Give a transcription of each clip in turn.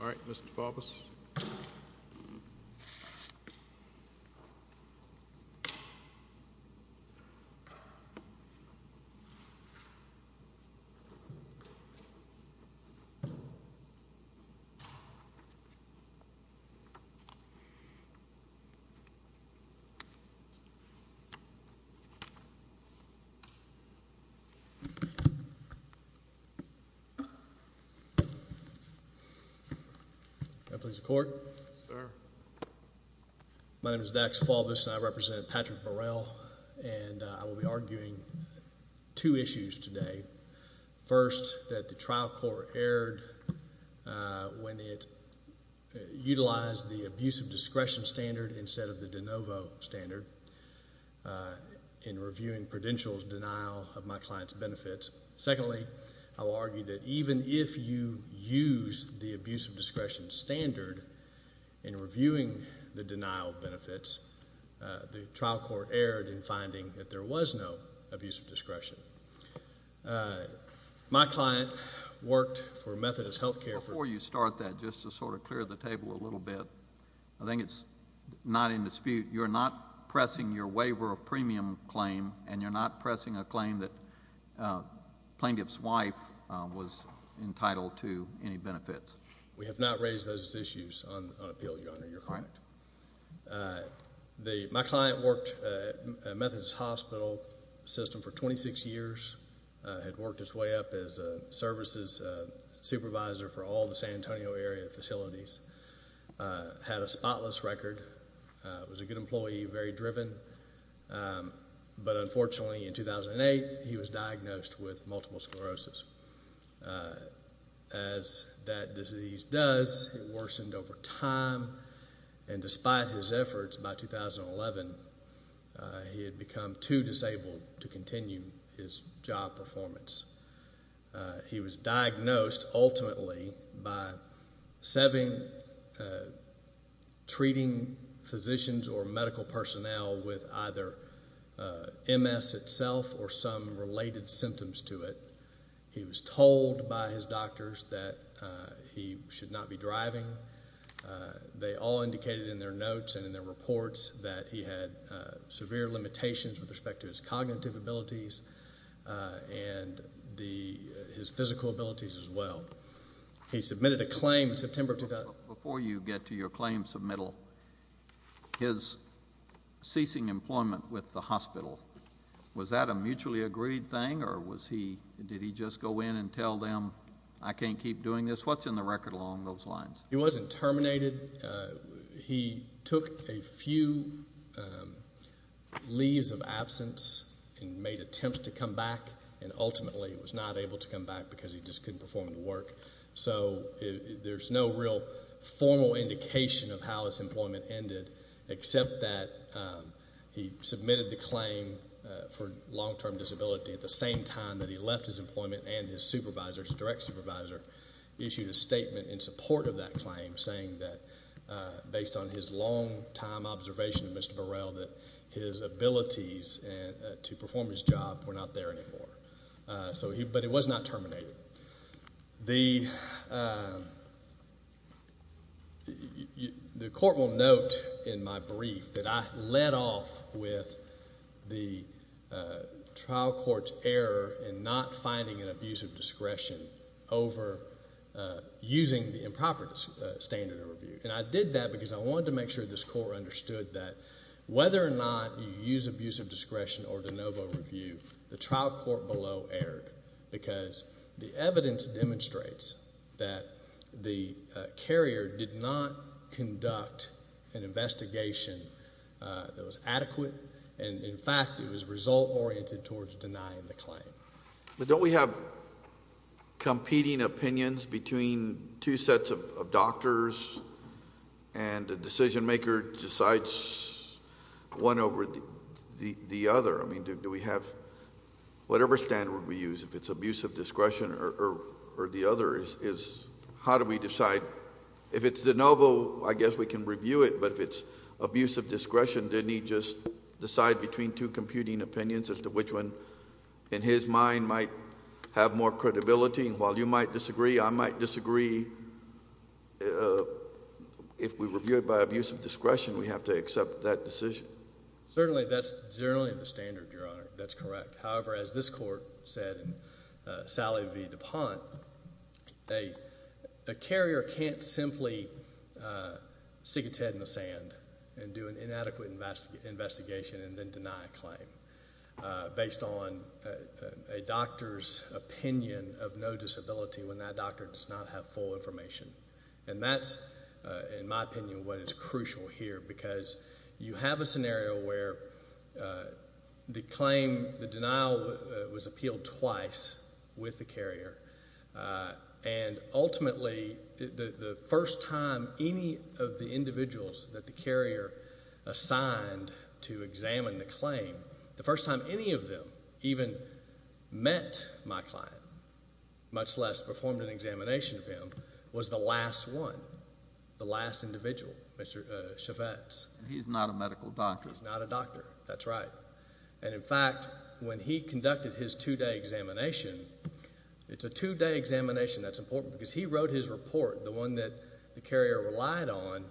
All right, Mr. Faubus. My name is Dax Faubus, and I represent Patrick Burell, and I will be arguing two issues today. First, that the trial court erred when it utilized the abusive discretion standard instead of the de novo standard in reviewing Prudential's denial of my client's benefits. Secondly, I will argue that even if you use the abusive discretion standard in reviewing the denial of benefits, the trial court erred in finding that there was no abusive discretion. My client worked for Methodist Health Care... Before you start that, just to sort of clear the table a little bit, I think it's not in dispute. You're not pressing your waiver of premium claim, and you're not pressing a claim that the plaintiff's wife was entitled to any benefits? We have not raised those issues on appeal, Your Honor. My client worked at Methodist Hospital System for 26 years, had worked his way up as a services supervisor for all the San Antonio area facilities, had a spotless record, was a good employee and very driven, but unfortunately, in 2008, he was diagnosed with multiple sclerosis. As that disease does, it worsened over time, and despite his efforts, by 2011, he had become too disabled to continue his job performance. He was diagnosed, ultimately, by setting, treating physicians or medical personnel with either MS itself or some related symptoms to it. He was told by his doctors that he should not be driving. They all indicated in their notes and in their reports that he had severe limitations with respect to his cognitive abilities and his physical abilities as well. He submitted a claim in September of 2011. Before you get to your claim submittal, his ceasing employment with the hospital, was that a mutually agreed thing, or did he just go in and tell them, I can't keep doing this? What's in the record along those lines? He wasn't terminated. He took a few leaves of absence and made attempts to come back, and ultimately was not able to come back because he just couldn't perform the work. There's no real formal indication of how his employment ended, except that he submitted the claim for long-term disability at the same time that he left his employment and his supervisor, his direct supervisor, issued a statement in support of that claim saying that based on his long-time observation of Mr. Burrell, that his abilities to perform his job were not there anymore. But he was not terminated. The court will note in my brief that I led off with the trial court's error in not finding an abuse of discretion over using the improper standard of review, and I did that because I wanted to make sure this court understood that whether or not you use abuse of discretion or de novo review, the trial court below erred because the evidence demonstrates that the carrier did not conduct an investigation that was adequate, and in fact, it was result-oriented towards denying the claim. But don't we have competing opinions between two sets of doctors and the decision-maker decides one over the other? I mean, do we have... whatever standard we use, if it's abuse of discretion or the other, is how do we decide? If it's de novo, I guess we can review it, but if it's abuse of discretion, didn't he just decide between two computing opinions as to which one, in his mind, might have more credibility? And while you might disagree, I might disagree. If we review it by abuse of discretion, we have to accept that decision. Certainly, that's generally the standard, Your Honor. That's correct. However, as this court said in Sally v. DuPont, a carrier can't simply stick its head in the investigation and then deny a claim based on a doctor's opinion of no disability when that doctor does not have full information. And that's, in my opinion, what is crucial here, because you have a scenario where the claim, the denial was appealed twice with the carrier, and ultimately, the first time any of the individuals that the carrier assigned to examine the claim, the first time any of them even met my client, much less performed an examination of him, was the last one, the last individual, Mr. Chavetz. He's not a medical doctor. He's not a doctor. That's right. And, in fact, when he conducted his two-day examination, it's a two-day examination that's his report, the one that the carrier relied on,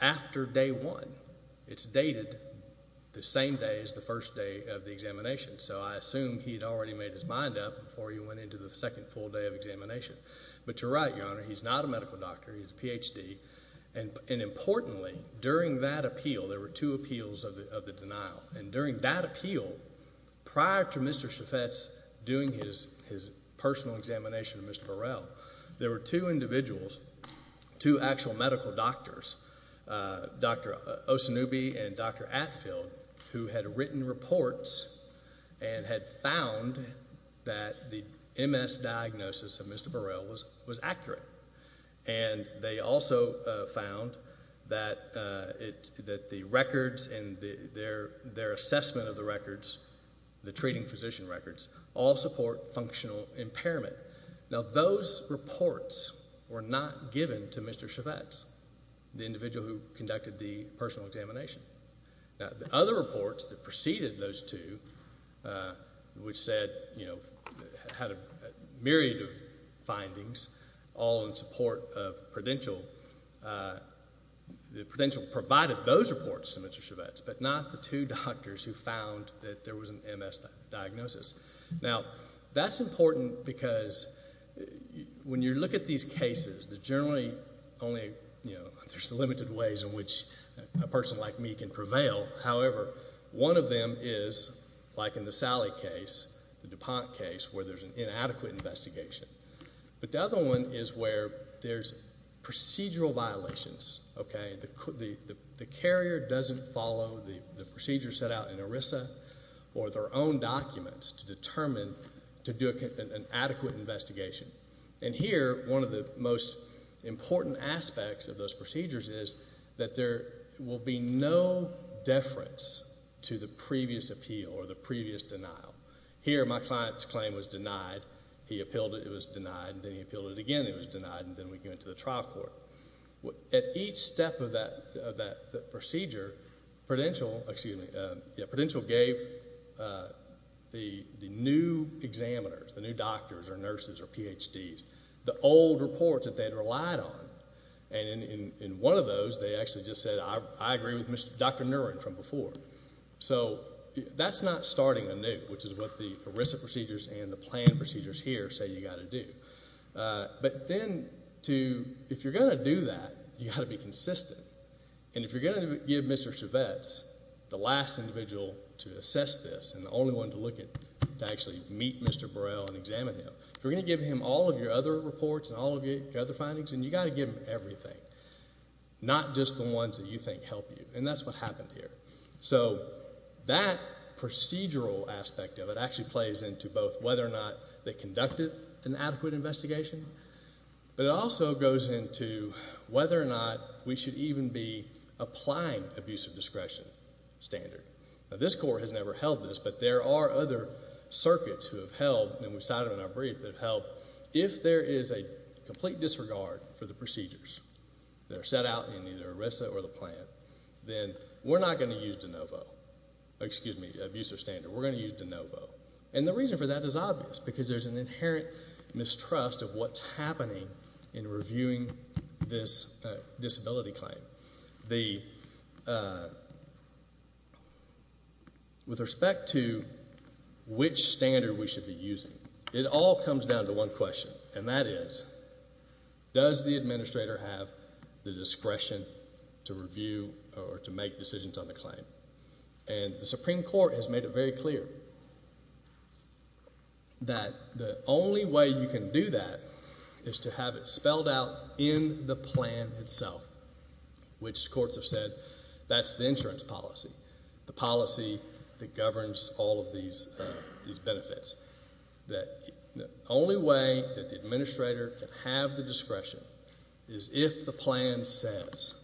after day one. It's dated the same day as the first day of the examination, so I assume he had already made his mind up before he went into the second full day of examination. But you're right, Your Honor. He's not a medical doctor. He's a Ph.D. And, importantly, during that appeal, there were two appeals of the denial, and during that appeal, prior to Mr. Chavetz doing his personal examination of Mr. Burrell, there were two individuals, two actual medical doctors, Dr. Osanubi and Dr. Atfield, who had written reports and had found that the MS diagnosis of Mr. Burrell was accurate. And they also found that the records and their assessment of the records, the treating physician records, all support functional impairment. Now, those reports were not given to Mr. Chavetz, the individual who conducted the personal examination. Now, the other reports that preceded those two, which said, you know, had a myriad of findings all in support of Prudential, Prudential provided those reports to Mr. Chavetz, but not the two doctors who found that there was an MS diagnosis. Now, that's important because when you look at these cases, there's generally only, you can prevail. However, one of them is, like in the Sally case, the DuPont case, where there's an inadequate investigation. But the other one is where there's procedural violations, okay? The carrier doesn't follow the procedure set out in ERISA or their own documents to determine to do an adequate investigation. And here, one of the most important aspects of those procedures is that there will be no deference to the previous appeal or the previous denial. Here, my client's claim was denied. He appealed it. It was denied. And then he appealed it again. It was denied. And then we go into the trial court. At each step of that procedure, Prudential gave the new examiners, the new doctors or PhDs, the old reports that they had relied on. And in one of those, they actually just said, I agree with Dr. Niren from before. So that's not starting anew, which is what the ERISA procedures and the planned procedures here say you got to do. But then to, if you're going to do that, you got to be consistent. And if you're going to give Mr. Chavetz, the last individual to assess this and the only one to look at, to actually meet Mr. Burrell and examine him. If you're going to give him all of your other reports and all of your other findings, then you got to give him everything. Not just the ones that you think help you. And that's what happened here. So that procedural aspect of it actually plays into both whether or not they conducted an adequate investigation, but it also goes into whether or not we should even be applying abuse of discretion standard. This court has never held this, but there are other circuits who have held, and we've had a number of other circuits that have held, if there is a complete disregard for the procedures that are set out in either ERISA or the plan, then we're not going to use de novo, excuse me, abuse of standard. We're going to use de novo. And the reason for that is obvious, because there's an inherent mistrust of what's happening in reviewing this disability claim. So, with respect to which standard we should be using, it all comes down to one question, and that is, does the administrator have the discretion to review or to make decisions on the claim? And the Supreme Court has made it very clear that the only way you can do that is to have it spelled out in the plan itself, which courts have said that's the insurance policy, the policy that governs all of these benefits, that the only way that the administrator can have the discretion is if the plan says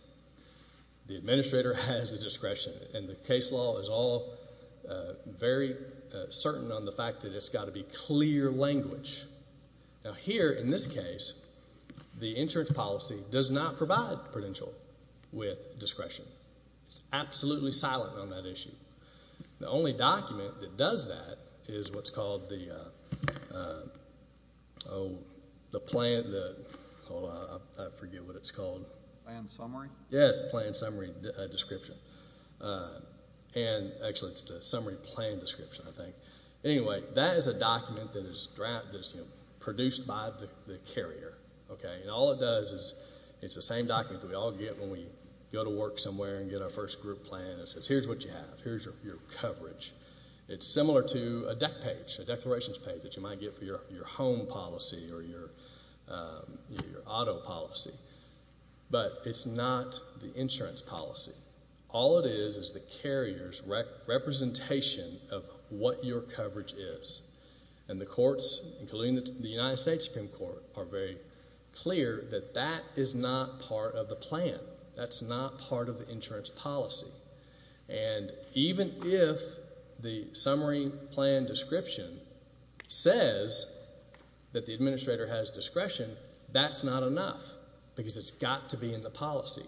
the administrator has the discretion, and the case law is all very certain on the fact that it's got to be clear language. Now, here, in this case, the insurance policy does not provide credential with discretion. It's absolutely silent on that issue. The only document that does that is what's called the plan that, hold on, I forget what it's called. Plan summary? Yes, plan summary description, and actually it's the summary plan description, I think. Anyway, that is a document that is produced by the carrier, okay, and all it does is it's the same document that we all get when we go to work somewhere and get our first group plan and it says here's what you have, here's your coverage. It's similar to a deck page, a declarations page that you might get for your home policy or your auto policy, but it's not the insurance policy. All it is is the carrier's representation of what your coverage is, and the courts, including the United States Supreme Court, are very clear that that is not part of the plan. That's not part of the insurance policy, and even if the summary plan description says that the administrator has discretion, that's not enough because it's got to be in the policy.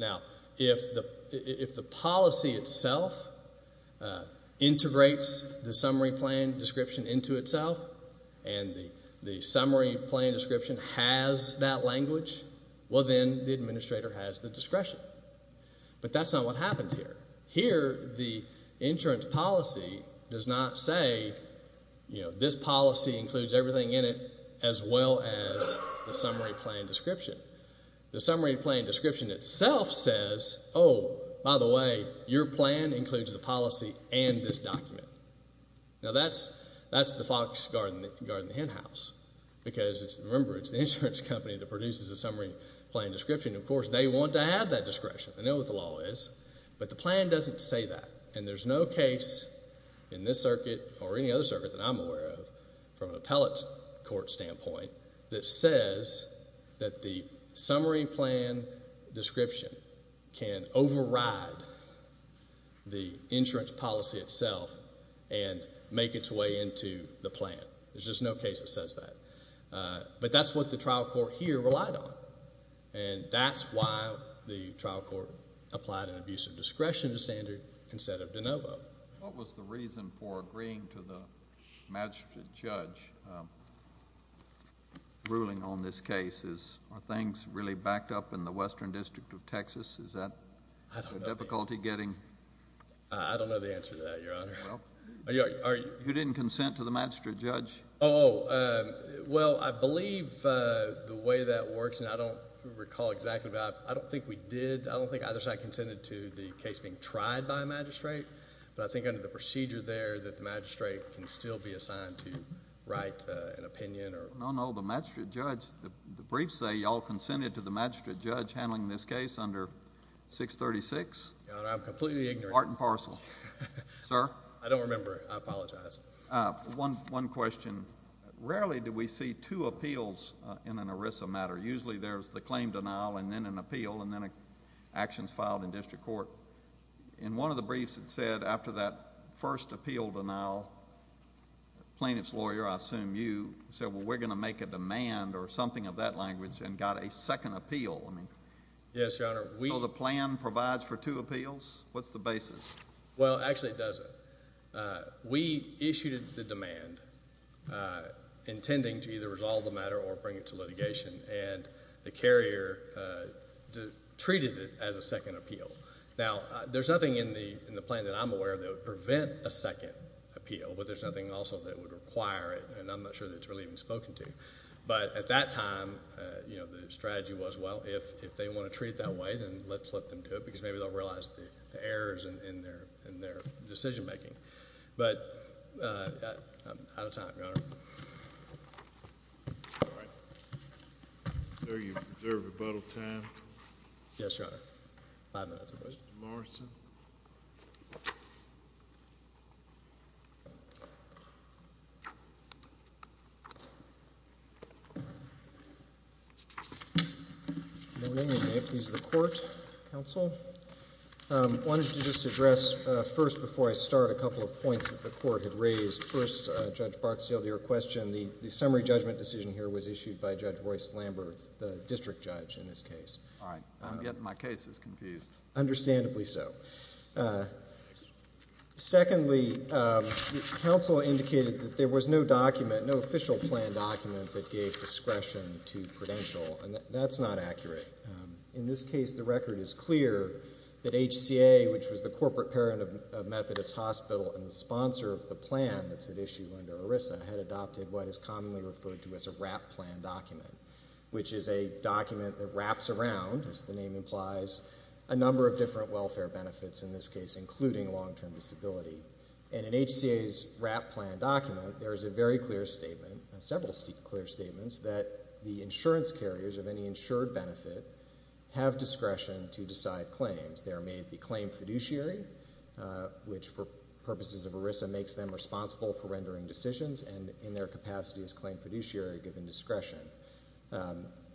Now, if the policy itself integrates the summary plan description into itself, and the summary plan description has that language, well then the administrator has the discretion, but that's not what happened here. Here the insurance policy does not say, you know, this policy includes everything in it as well as the summary plan description. The summary plan description itself says, oh, by the way, your plan includes the policy and this document. Now that's the fox guarding the hen house because, remember, it's the insurance company that produces the summary plan description, and of course they want to have that discretion. They know what the law is, but the plan doesn't say that, and there's no case in this circuit or any other circuit that I'm aware of from an appellate court standpoint that says that the summary plan description can override the insurance policy itself and make its way into the plan. There's just no case that says that, but that's what the trial court here relied on, and that's why the trial court applied an abuse of discretion standard instead of de novo. What was the reason for agreeing to the magistrate judge ruling on this case? Are things really backed up in the Western District of Texas? Is that a difficulty getting... I don't know the answer to that, Your Honor. You didn't consent to the magistrate judge? Oh, well, I believe the way that works, and I don't recall exactly, but I don't think we did. I don't think either side consented to the case being tried by a magistrate, but I think under the procedure there that the magistrate can still be assigned to write an opinion or... No, no. The magistrate judge... the briefs say you all consented to the magistrate judge handling this case under 636. Your Honor, I'm completely ignorant. Part and parcel. Sir? I don't remember. I apologize. One question. Rarely do we see two appeals in an ERISA matter. Usually there's the claim denial and then an appeal and then actions filed in district court. In one of the briefs it said after that first appeal denial, plaintiff's lawyer, I assume you, said, well, we're going to make a demand or something of that language and got a second appeal. Yes, Your Honor. So the plan provides for two appeals? What's the basis? Well, actually it doesn't. We issued the demand intending to either resolve the matter or bring it to litigation, and the carrier treated it as a second appeal. Now, there's nothing in the plan that I'm aware of that would prevent a second appeal, but there's nothing also that would require it, and I'm not sure that it's really even spoken to. But at that time, you know, the strategy was, well, if they want to treat it that way, then let's let them do it, because maybe they'll realize the errors in their decision making. But I'm out of time, Your Honor. All right. Sir, you reserve rebuttal time? Yes, Your Honor. Five minutes for questions. Mr. Morrison? Your Honor, may it please the Court, counsel, I wanted to just address first before I start a couple of points that the Court had raised. First, Judge Barksdale, to your question, the summary judgment decision here was issued by Judge Royce Lambert, the district judge in this case. All right. Yet my case is confused. Understandably so. Secondly, counsel indicated that there was no document, no official plan document that gave discretion to Prudential, and that's not accurate. In this case, the record is clear that HCA, which was the corporate parent of Methodist Hospital and the sponsor of the plan that's at issue under ERISA, had adopted what is commonly referred to as a wrap plan document, which is a document that wraps around, as you know, a number of different welfare benefits in this case, including long-term disability. And in HCA's wrap plan document, there is a very clear statement, several clear statements, that the insurance carriers of any insured benefit have discretion to decide claims. They are made the claim fiduciary, which, for purposes of ERISA, makes them responsible for rendering decisions, and in their capacity as claim fiduciary, given discretion.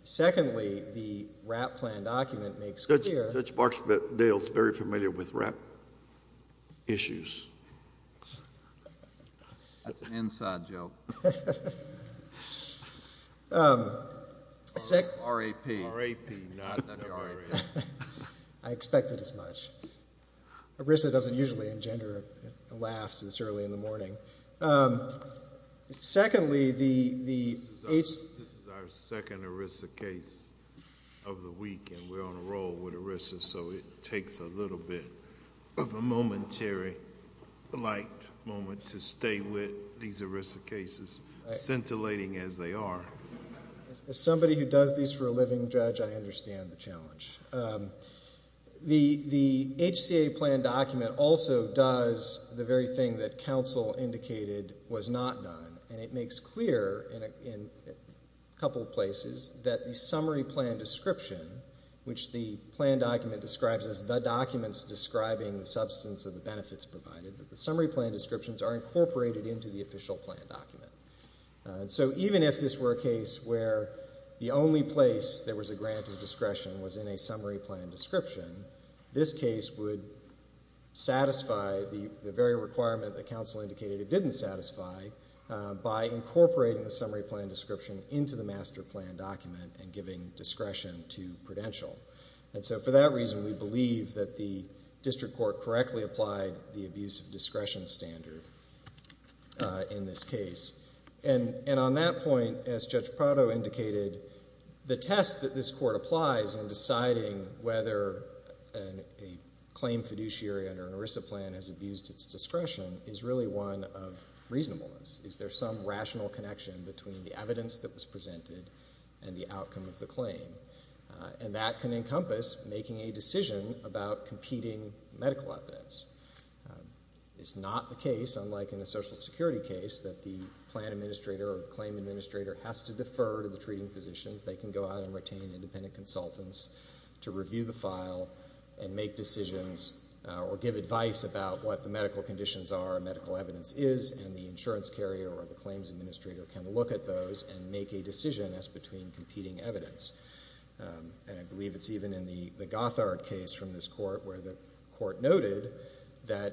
Secondly, the wrap plan document makes clear— Judge Marksdale is very familiar with wrap issues. That's an inside joke. R.A.P. R.A.P., not R.A.P. I expected as much. ERISA doesn't usually engender laughs this early in the morning. Secondly, the— This is our second ERISA case of the week, and we're on a roll. I'm sorry. I'm sorry. I'm sorry. I'm sorry. I'm sorry. I'm sorry. I'm sorry. We're on a roll with ERISA, so it takes a little bit of a momentary light moment to stay with these ERISA cases, scintillating as they are. As somebody who does these for a living, Judge, I understand the challenge. The HCA plan document also does the very thing that counsel indicated was not done, and it as the documents describing the substance of the benefits provided, that the summary plan descriptions are incorporated into the official plan document. So even if this were a case where the only place there was a grant of discretion was in a summary plan description, this case would satisfy the very requirement that counsel indicated it didn't satisfy by incorporating the summary plan description into the master plan document and giving discretion to Prudential. And so for that reason, we believe that the district court correctly applied the abuse of discretion standard in this case. And on that point, as Judge Prado indicated, the test that this court applies in deciding whether a claim fiduciary under an ERISA plan has abused its discretion is really one of reasonableness. Is there some rational connection between the evidence that was presented and the outcome of the claim? And that can encompass making a decision about competing medical evidence. It's not the case, unlike in a social security case, that the plan administrator or the claim administrator has to defer to the treating physicians. They can go out and retain independent consultants to review the file and make decisions or give advice about what the medical conditions are and medical evidence is, and the insurance carrier or the claims administrator can look at those and make a decision as between competing evidence. And I believe it's even in the Gothard case from this court where the court noted that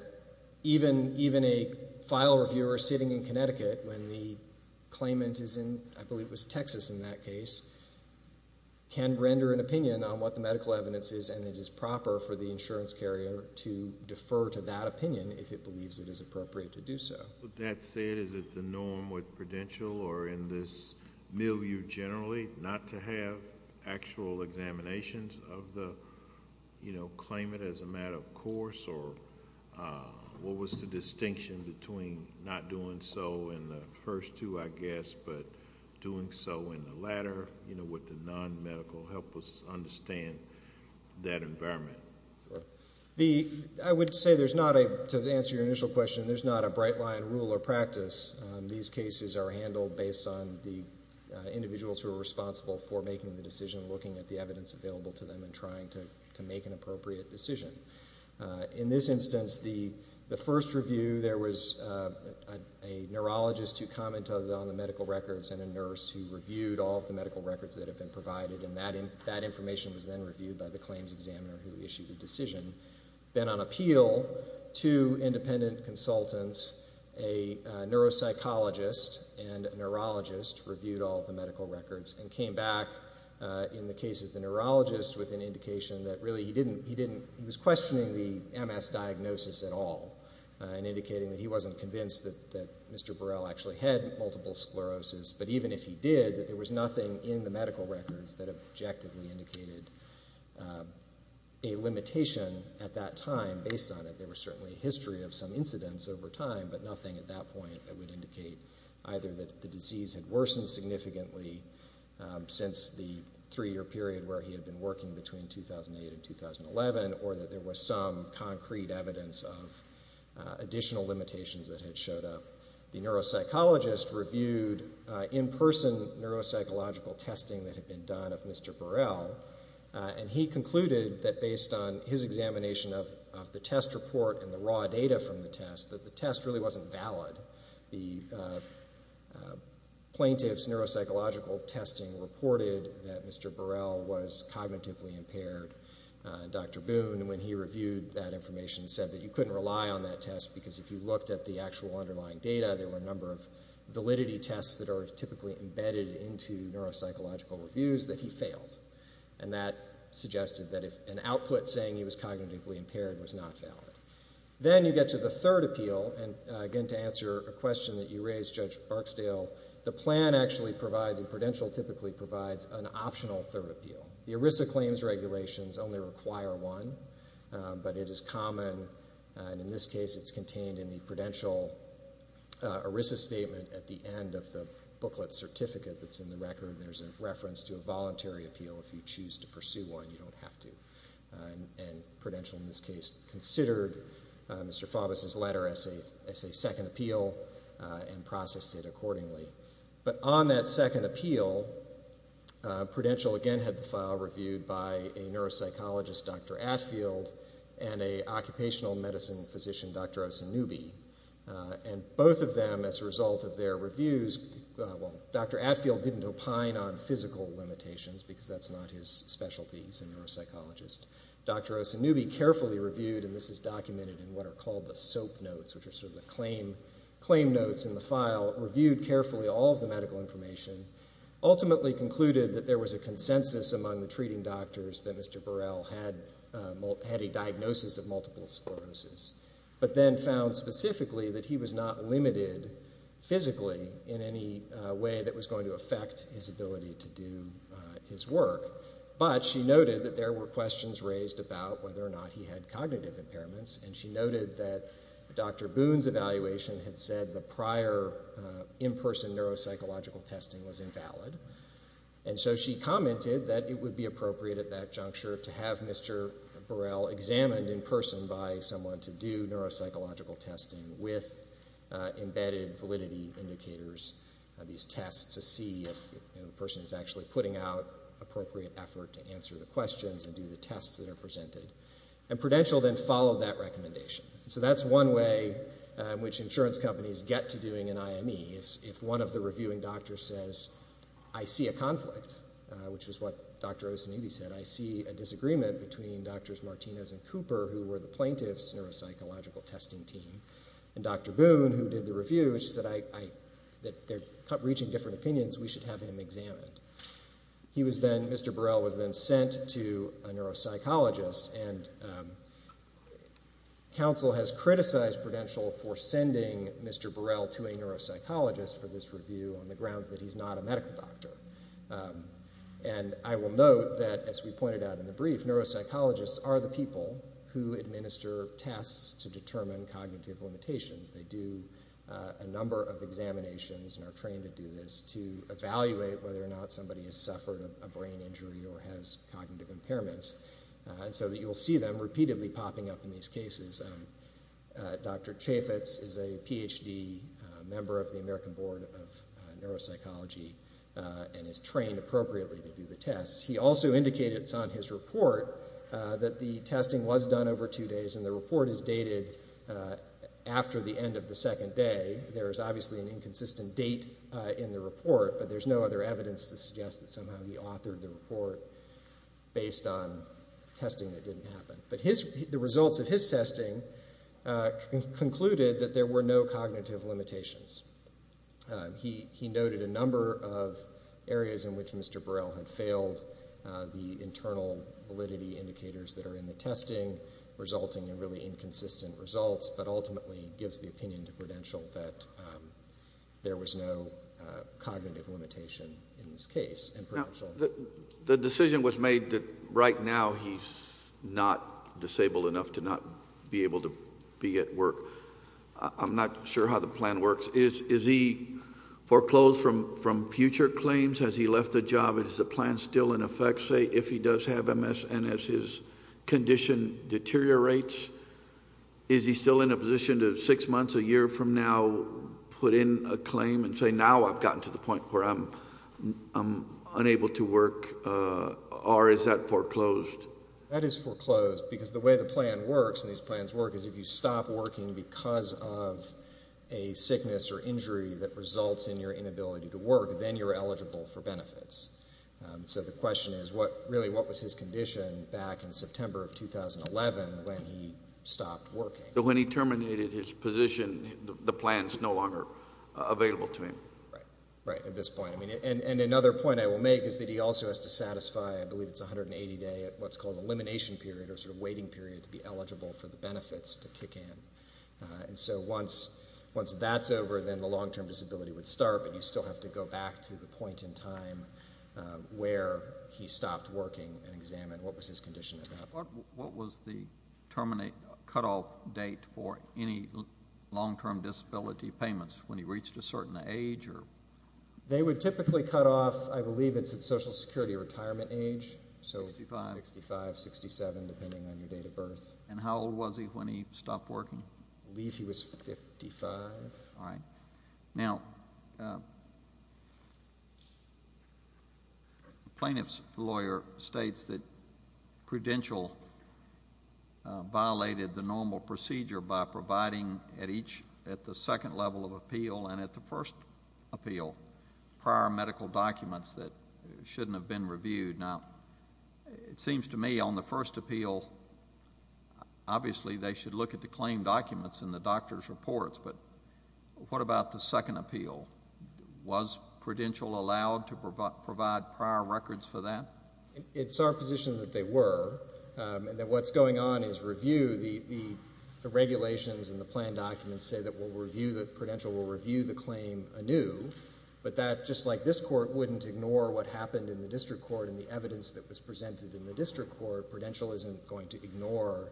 even a file reviewer sitting in Connecticut when the claimant is in, I believe it was Texas in that case, can render an opinion on what the medical evidence is and it is proper for the insurance carrier to defer to that opinion if it believes it is appropriate to do so. With that said, is it the norm with Prudential or in this milieu generally not to have actual examinations of the claimant as a matter of course? Or what was the distinction between not doing so in the first two, I guess, but doing so in the latter? Would the non-medical help us understand that environment? I would say there's not a, to answer your initial question, there's not a bright line rule or practice. These cases are handled based on the individuals who are responsible for making the decision, looking at the evidence available to them and trying to make an appropriate decision. In this instance, the first review, there was a neurologist who commented on the medical records and a nurse who reviewed all of the medical records that have been provided and that information was then reviewed by the claims examiner who issued the decision. Then on appeal to independent consultants, a neuropsychologist and a neurologist reviewed all of the medical records and came back in the case of the neurologist with an indication that really he didn't, he was questioning the MS diagnosis at all and indicating that he wasn't convinced that Mr. Burrell actually had multiple sclerosis, but even if he did, there was nothing in the medical records that objectively indicated a limitation at that time based on it. There was certainly a history of some incidents over time, but nothing at that point that would indicate either that the disease had worsened significantly since the three-year period where he had been working between 2008 and 2011 or that there was some concrete evidence of additional limitations that had showed up. The neuropsychologist reviewed in-person neuropsychological testing that had been done of Mr. Burrell and he concluded that based on his examination of the test report and the raw data from the test that the test really wasn't valid. The plaintiff's neuropsychological testing reported that Mr. Burrell was cognitively impaired. Dr. Boone, when he reviewed that information, said that you couldn't rely on that test because if you looked at the actual underlying data, there were a number of validity tests that are typically embedded into neuropsychological reviews that he failed. And that suggested that if an output saying he was cognitively impaired was not valid. Then you get to the third appeal, and again, to answer a question that you raised, Judge Barksdale, the plan actually provides, and Prudential typically provides, an optional third appeal. The ERISA claims regulations only require one, but it is common, and in this case it's contained in the Prudential ERISA statement at the end of the booklet certificate that's in the record. There's a reference to a voluntary appeal if you choose to pursue one, you don't have to. And Prudential in this case considered Mr. Faubus' letter as a second appeal and processed it accordingly. But on that second appeal, Prudential again had the file reviewed by a neuropsychologist, Dr. Atfield, and a occupational medicine physician, Dr. Osanubi. And both of them, as a result of their reviews, well, Dr. Atfield didn't opine on physical limitations because that's not his specialty, he's a neuropsychologist, Dr. Osanubi carefully reviewed, and this is documented in what are called the SOAP notes, which are sort of the claim notes in the file, reviewed carefully all of the medical information, ultimately concluded that there was a consensus among the treating doctors that Mr. Burrell had a diagnosis of multiple sclerosis, but then found specifically that he was not limited physically in any way that was going to affect his ability to do his work. But she noted that there were questions raised about whether or not he had cognitive impairments, and she noted that Dr. Boone's evaluation had said the prior in-person neuropsychological testing was invalid, and so she commented that it would be appropriate at that juncture to have Mr. Burrell examined in person by someone to do neuropsychological testing with embedded validity indicators, these tests to see if the person is actually putting out appropriate effort to answer the questions and do the tests that are presented. And Prudential then followed that recommendation. So that's one way in which insurance companies get to doing an IME, if one of the reviewing doctors says, I see a conflict, which is what Dr. Osanubi said, I see a disagreement between Drs. Martinez and Cooper, who were the plaintiff's neuropsychological testing team, and Dr. Boone, who did the review, which is that they're reaching different opinions, we should have him examined. He was then, Mr. Burrell was then sent to a neuropsychologist, and counsel has criticized Prudential for sending Mr. Burrell to a neuropsychologist for this review on the grounds that he's not a medical doctor, and I will note that, as we pointed out in the brief, neuropsychologists are the people who administer tests to determine cognitive limitations, they do a number of tests to determine whether somebody has suffered a brain injury or has cognitive impairments, and so you'll see them repeatedly popping up in these cases. Dr. Chaffetz is a PhD member of the American Board of Neuropsychology, and is trained appropriately to do the tests. He also indicated on his report that the testing was done over two days, and the report is dated after the end of the second day. There is obviously an inconsistent date in the report, but there's no other evidence to suggest that somehow he authored the report based on testing that didn't happen. But the results of his testing concluded that there were no cognitive limitations. He noted a number of areas in which Mr. Burrell had failed, the internal validity indicators that are in the testing, resulting in really inconsistent results, but ultimately gives the opinion to Prudential that there was no cognitive limitation in this case in Prudential. The decision was made that right now he's not disabled enough to not be able to be at work. I'm not sure how the plan works. Is he foreclosed from future claims? Has he left the job? Is the plan still in effect, say, if he does have MS, and as his condition deteriorates, is he still in a position to six months, a year from now, put in a claim and say, now I've gotten to the point where I'm unable to work, or is that foreclosed? That is foreclosed, because the way the plan works, and these plans work, is if you stop working because of a sickness or injury that results in your inability to work, then you're eligible for benefits. So the question is, really, what was his condition back in September of 2011 when he stopped working? When he terminated his position, the plan's no longer available to him. Right, at this point. Another point I will make is that he also has to satisfy, I believe it's 180-day, what's called elimination period, or waiting period to be eligible for the benefits to kick in. So once that's over, then the long-term disability would start, but you still have to go back to the point in time where he stopped working and examine what was his condition at that point. What was the terminate, cutoff date for any long-term disability payments, when he reached a certain age, or? They would typically cut off, I believe it's at Social Security retirement age, so 65, 67, depending on your date of birth. And how old was he when he stopped working? I believe he was 55. All right. Now, the plaintiff's lawyer states that Prudential violated the normal procedure by providing at each, at the second level of appeal and at the first appeal, prior medical documents that shouldn't have been reviewed. Now, it seems to me on the first appeal, obviously, they should look at the claim documents and the doctor's reports, but what about the second appeal? Was Prudential allowed to provide prior records for that? It's our position that they were, and that what's going on is review. The regulations and the plan documents say that we'll review, that Prudential will review the claim anew, but that, just like this Court wouldn't ignore what happened in the District Court and the evidence that was presented in the District Court, Prudential isn't going to ignore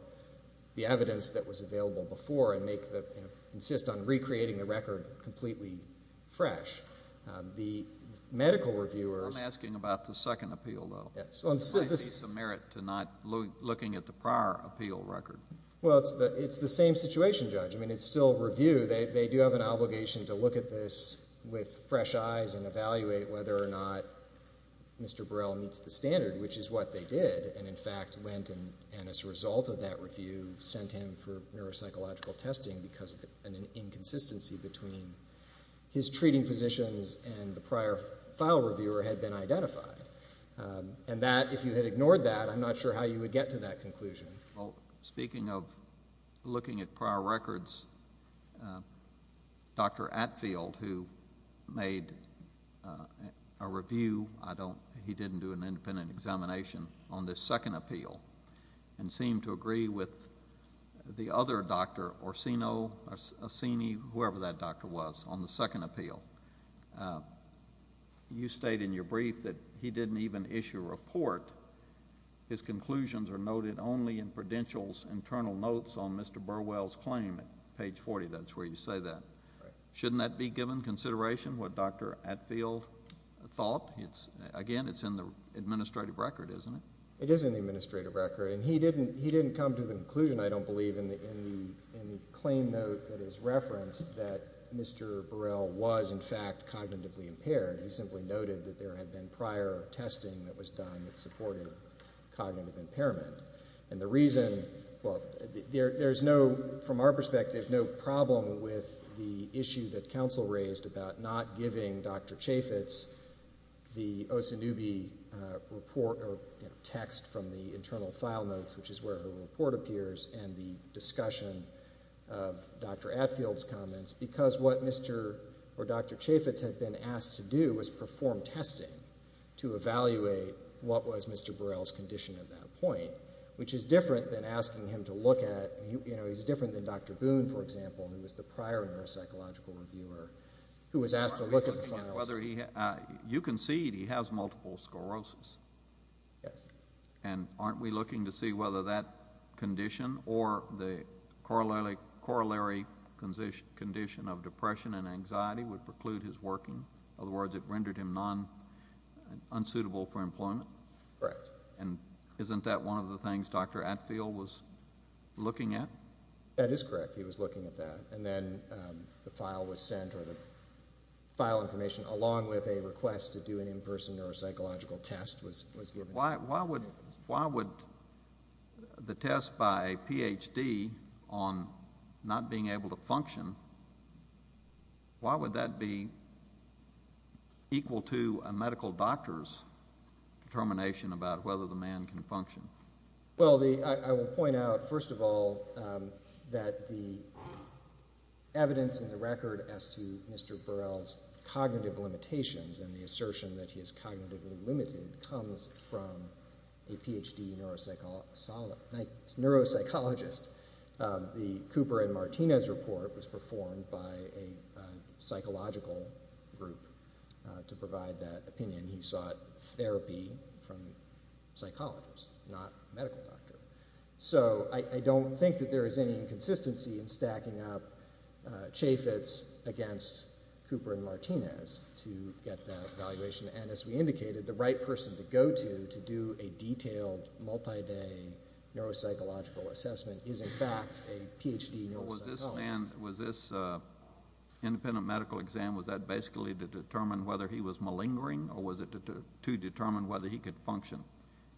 the evidence that was available before and make the, you know, insist on recreating the record completely fresh. The medical reviewers... I'm asking about the second appeal, though. Yes. The plaintiff's merit to not looking at the prior appeal record. Well, it's the same situation, Judge. I mean, it's still review. They do have an obligation to look at this with fresh eyes and evaluate whether or not Mr. Burrell meets the standard, which is what they did and, in fact, went and, as a result of that review, sent him for neuropsychological testing because an inconsistency between his treating physicians and the prior file reviewer had been identified. And that, if you had ignored that, I'm not sure how you would get to that conclusion. Well, speaking of looking at prior records, Dr. Atfield, who made a review... I don't... he didn't do an independent examination on this second appeal and seemed to agree with the other doctor, Orsino, Assini, whoever that doctor was, on the second appeal. You state in your brief that he didn't even issue a report. His conclusions are noted only in Prudential's internal notes on Mr. Burwell's claim. Page 40, that's where you say that. Shouldn't that be given consideration, what Dr. Atfield thought? Again, it's in the administrative record, isn't it? It is in the administrative record. And he didn't come to the conclusion, I don't believe, in the claim note that is referenced there. He simply noted that there had been prior testing that was done that supported cognitive impairment. And the reason... well, there's no... from our perspective, no problem with the issue that counsel raised about not giving Dr. Chaffetz the Osanubi report or text from the internal file notes, which is where her report appears, and the discussion of Dr. Atfield's comments because what Mr. or Dr. Chaffetz had been asked to do was perform testing to evaluate what was Mr. Burwell's condition at that point, which is different than asking him to look at... you know, he's different than Dr. Boone, for example, who was the prior neuropsychological reviewer, who was asked to look at the files. You concede he has multiple sclerosis. Yes. And aren't we looking to see whether that condition or the corollary condition of depression and anxiety would preclude his working? In other words, it rendered him non... unsuitable for employment? Correct. And isn't that one of the things Dr. Atfield was looking at? That is correct. He was looking at that. And then the file was sent, or the file information, along with a request to do an in-person neuropsychological test was given. Why would the test by a Ph.D. on not being able to function, why would that be equal to a medical doctor's determination about whether the man can function? Well, I will point out, first of all, that the evidence in the record as to Mr. Burwell's cognitive limitations and the assertion that he is cognitively limited comes from a Ph.D. neuropsychologist. The Cooper and Martinez report was performed by a psychological group to provide that opinion. He sought therapy from psychologists, not a medical doctor. So I don't think that there is any inconsistency in stacking up Chaffetz against Cooper and Martinez to get that evaluation. And as we indicated, the right person to go to to do a detailed, multi-day neuropsychological assessment is, in fact, a Ph.D. neuropsychologist. Was this independent medical exam, was that basically to determine whether he was malingering or was it to determine whether he could function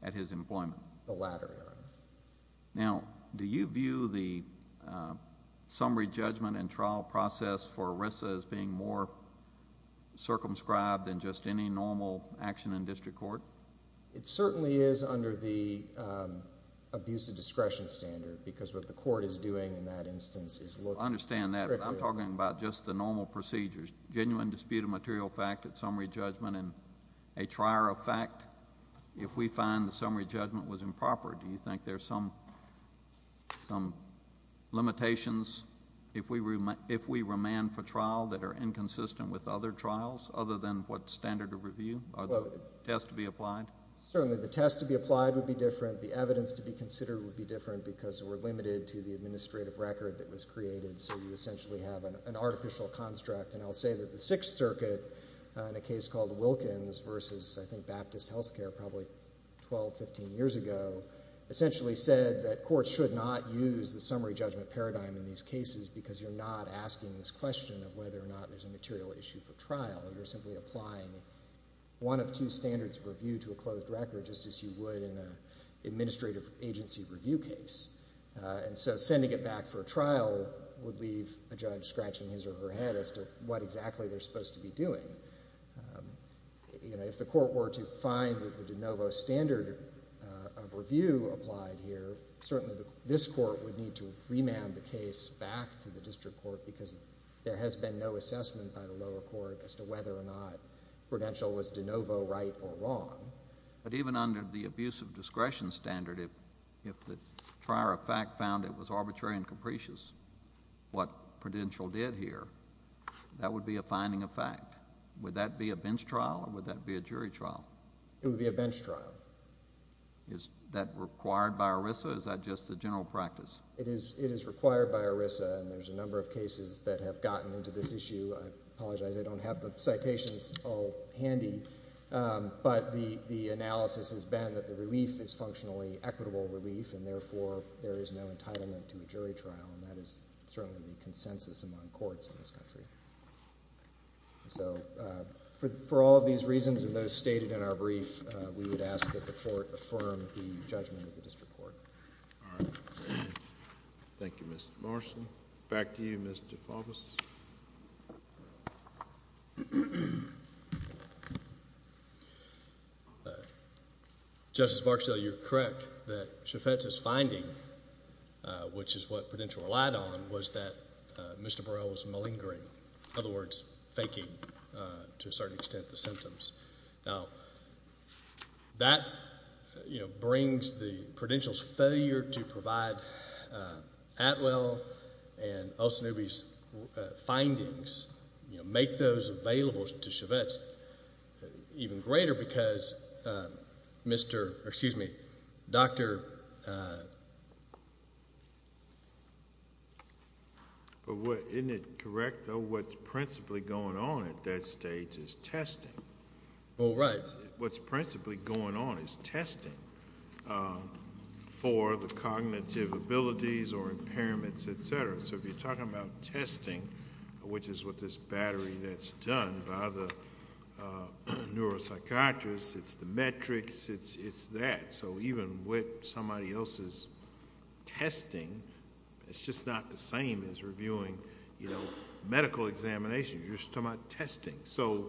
at his employment? The latter. Now, do you view the summary judgment and trial process for ERISA as being more circumscribed than just any normal action in district court? It certainly is under the abuse of discretion standard because what the court is doing in that instance is looking... I understand that, but I'm talking about just the normal procedures, genuine dispute of material fact at summary judgment and a trier of fact if we find the summary judgment was proper. Do you think there's some limitations if we remand for trial that are inconsistent with other trials other than what standard of review? Are there tests to be applied? Certainly. The tests to be applied would be different. The evidence to be considered would be different because we're limited to the administrative record that was created. So you essentially have an artificial construct. And I'll say that the Sixth Circuit, in a case called Wilkins versus, I think, Baptist Health Care, probably 12, 15 years ago, essentially said that courts should not use the summary judgment paradigm in these cases because you're not asking this question of whether or not there's a material issue for trial. You're simply applying one of two standards of review to a closed record just as you would in an administrative agency review case. And so sending it back for a trial would leave a judge scratching his or her head as to what exactly they're supposed to be doing. You know, if the court were to find that the de novo standard of review applied here, certainly this court would need to remand the case back to the district court because there has been no assessment by the lower court as to whether or not Prudential was de novo right or wrong. But even under the abuse of discretion standard, if the trier of fact found it was arbitrary and capricious what Prudential did here, that would be a finding of fact. Would that be a bench trial or would that be a jury trial? It would be a bench trial. Is that required by ERISA or is that just a general practice? It is required by ERISA and there's a number of cases that have gotten into this issue. I apologize, I don't have the citations all handy. But the analysis has been that the relief is functionally equitable relief and therefore there is no entitlement to a jury trial and that is certainly the consensus among courts in this country. So for all of these reasons and those stated in our brief, we would ask that the court affirm the judgment of the district court. All right. Thank you, Mr. Morrison. Back to you, Mr. Faubus. Justice Barksdale, you're correct that Chaffetz's finding, which is what Prudential relied on, was that Mr. Burrell was malingering, in other words, faking to a certain extent the symptoms. Now, that brings the Prudential's failure to provide Atwell and Olsen-Ubey's findings, make those available to Chaffetz even greater because Mr.... excuse me, Dr.... But isn't it correct, though, what's principally going on at that stage is testing? Oh, right. What's principally going on is testing for the cognitive abilities or impairments, etc. So if you're talking about testing, which is what this battery that's done by the neuropsychiatrists, it's the metrics, it's that. So even with somebody else's testing, it's just not the same as reviewing medical examinations. You're just talking about testing. So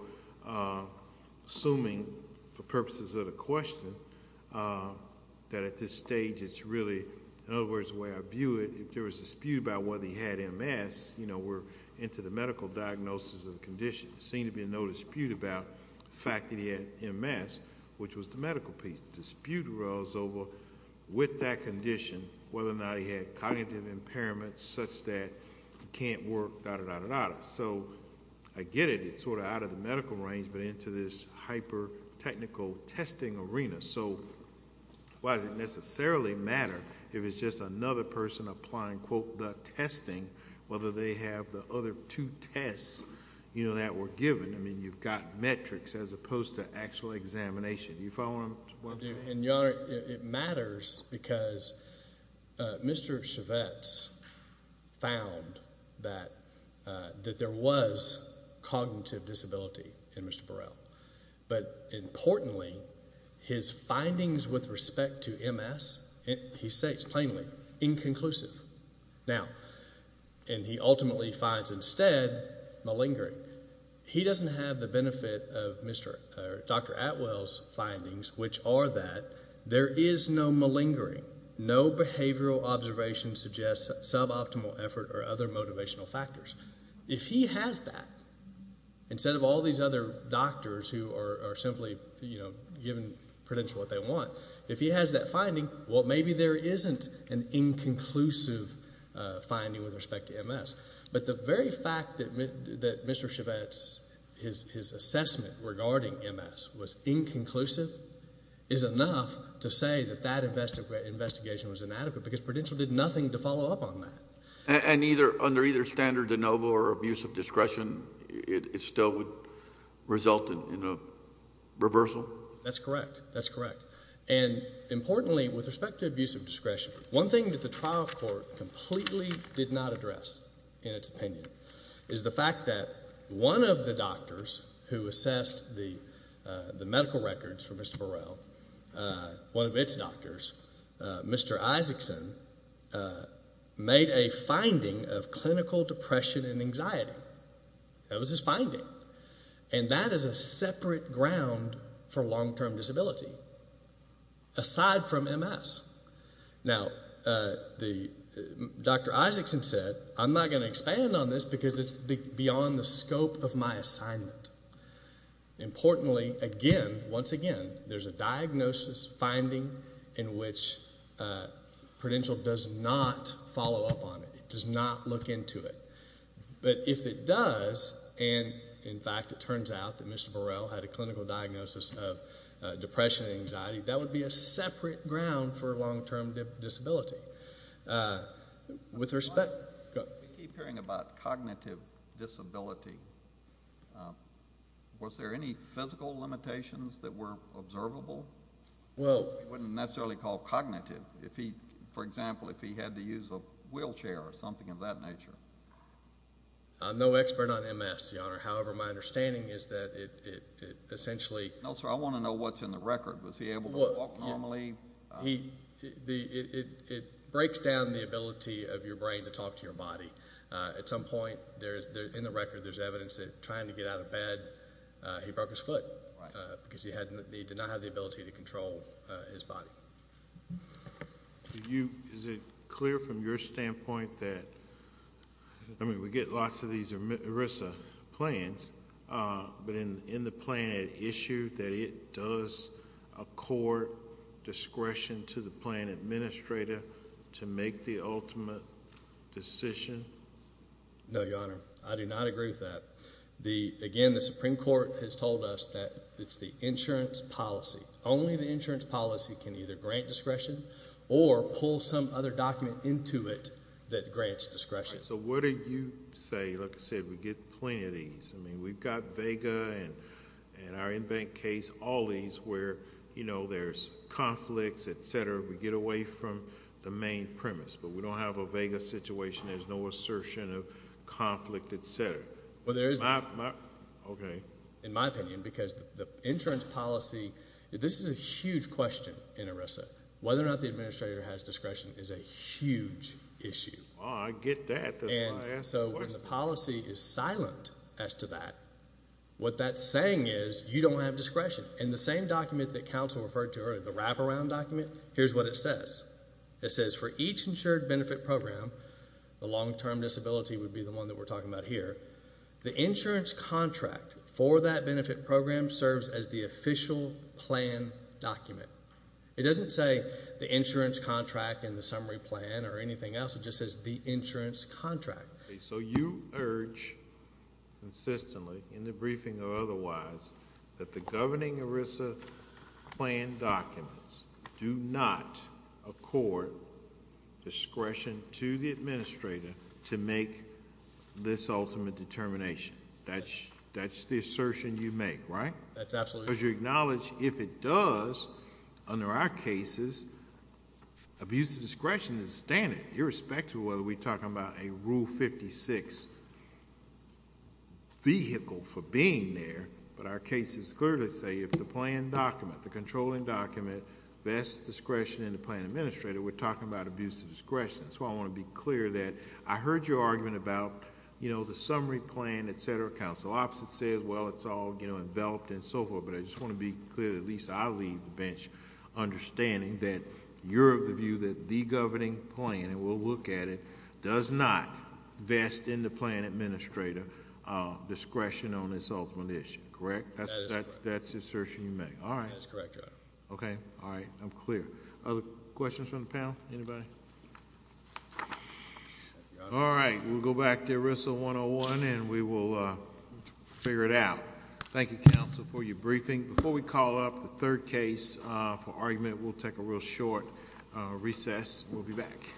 assuming, for purposes of the question, that at this stage it's really, in other words, the way I view it, if there was a dispute about whether he had MS, you know, we're into the medical diagnosis of the condition. There seemed to be no dispute about the fact that he had MS, which was the medical piece. The dispute rolls over with that condition, whether or not he had cognitive impairments such that he can't work, da-da-da-da-da. So I get it. It's sort of out of the medical range, but into this hyper-technical testing arena. So why does it necessarily matter if it's just another person applying, quote, the testing, whether they have the other two tests, you know, that were given? I mean, you've got metrics as opposed to actual examination. Do you follow what I'm saying? And Your Honor, it matters because Mr. Chivette's found that there was cognitive disability in Mr. Burrell. But importantly, his findings with respect to MS, he states plainly, inconclusive. Now, and he ultimately finds instead malingering. He doesn't have the benefit of Dr. Atwell's findings, which are that there is no malingering. No behavioral observation suggests suboptimal effort or other motivational factors. If he has that, instead of all these other doctors who are simply, you know, giving prudential what they want, if he has that finding, well maybe there isn't an inconclusive finding with respect to MS. But the very fact that Mr. Chivette's, his assessment regarding MS was inconclusive, is enough to say that that investigation was inadequate because prudential did nothing to follow up on that. And either, under either standard de novo or abuse of discretion, it still would result in a reversal? That's correct. And importantly, with respect to abuse of discretion, one thing that the trial court completely did not address, in its opinion, is the fact that one of the doctors who assessed the medical records for Mr. Burrell, one of its doctors, Mr. Isaacson, made a finding of clinical depression and anxiety. That was his finding. And that is a separate ground for long-term disability, aside from MS. Now, Dr. Isaacson said, I'm not going to expand on this because it's beyond the scope of my assignment. Importantly, again, once again, there's a diagnosis finding in which prudential does not follow up on it. It does not look into it. But if it does, and in fact it turns out that Mr. Burrell had a clinical diagnosis of depression and anxiety, that would be a separate ground for long-term disability, with respect. We keep hearing about cognitive disability. Was there any physical limitations that were observable? Well, we wouldn't necessarily call cognitive. If he, for example, if he had to use a wheelchair or something of that nature. I'm no expert on MS, Your Honor. However, my understanding is that it essentially. No, sir, I want to know what's in the record. Was he able to walk normally? He, it breaks down the ability of your brain to talk to your body. At some point, in the record, there's evidence that trying to get out of bed, he broke his foot because he did not have the ability to control his body. Do you, is it clear from your standpoint that, I mean we get lots of these ERISA plans, but in the plan it issued that it does accord discretion to the plan administrator to make the ultimate decision? No, Your Honor. I do not agree with that. The, again, the Supreme Court has told us that it's the insurance policy. Only the insurance policy can either grant discretion or pull some other document into it that grants discretion. I mean, we've got VEGA and our in-bank case, all these where, you know, there's conflicts, et cetera, we get away from the main premise. But we don't have a VEGA situation. There's no assertion of conflict, et cetera. Well, there is not. Okay. In my opinion, because the insurance policy, this is a huge question in ERISA. Whether or not the administrator has discretion is a huge issue. Oh, I get that. And so when the policy is silent as to that, what that's saying is you don't have discretion. And the same document that counsel referred to earlier, the wraparound document, here's what it says. It says, for each insured benefit program, the long-term disability would be the one that we're talking about here, the insurance contract for that benefit program serves as the official plan document. It doesn't say the insurance contract and the summary plan or anything else. It just says the insurance contract. So you urge consistently in the briefing or otherwise that the governing ERISA plan documents do not accord discretion to the administrator to make this ultimate determination. That's the assertion you make, right? That's absolutely right. Because you acknowledge if it does, under our cases, abuse of discretion is a standard. Irrespective of whether we're talking about a Rule 56 vehicle for being there, but our cases clearly say if the plan document, the controlling document, best discretion in the plan administrator, we're talking about abuse of discretion. That's why I want to be clear that I heard your argument about the summary plan, et cetera. Counsel opposite says, well, it's all enveloped and so forth, but I just want to be clear, at least I leave the bench understanding that you're of the view that the governing plan, and we'll look at it, does not vest in the plan administrator discretion on this ultimate issue. Correct? That is correct. That's the assertion you make. All right. That is correct, Your Honor. Okay. All right. I'm clear. Other questions from the panel? Anybody? All right. We'll go back to ERISA 101 and we will figure it out. Thank you, counsel, for your briefing. Before we call up the third case for argument, we'll take a real short recess. We'll be back.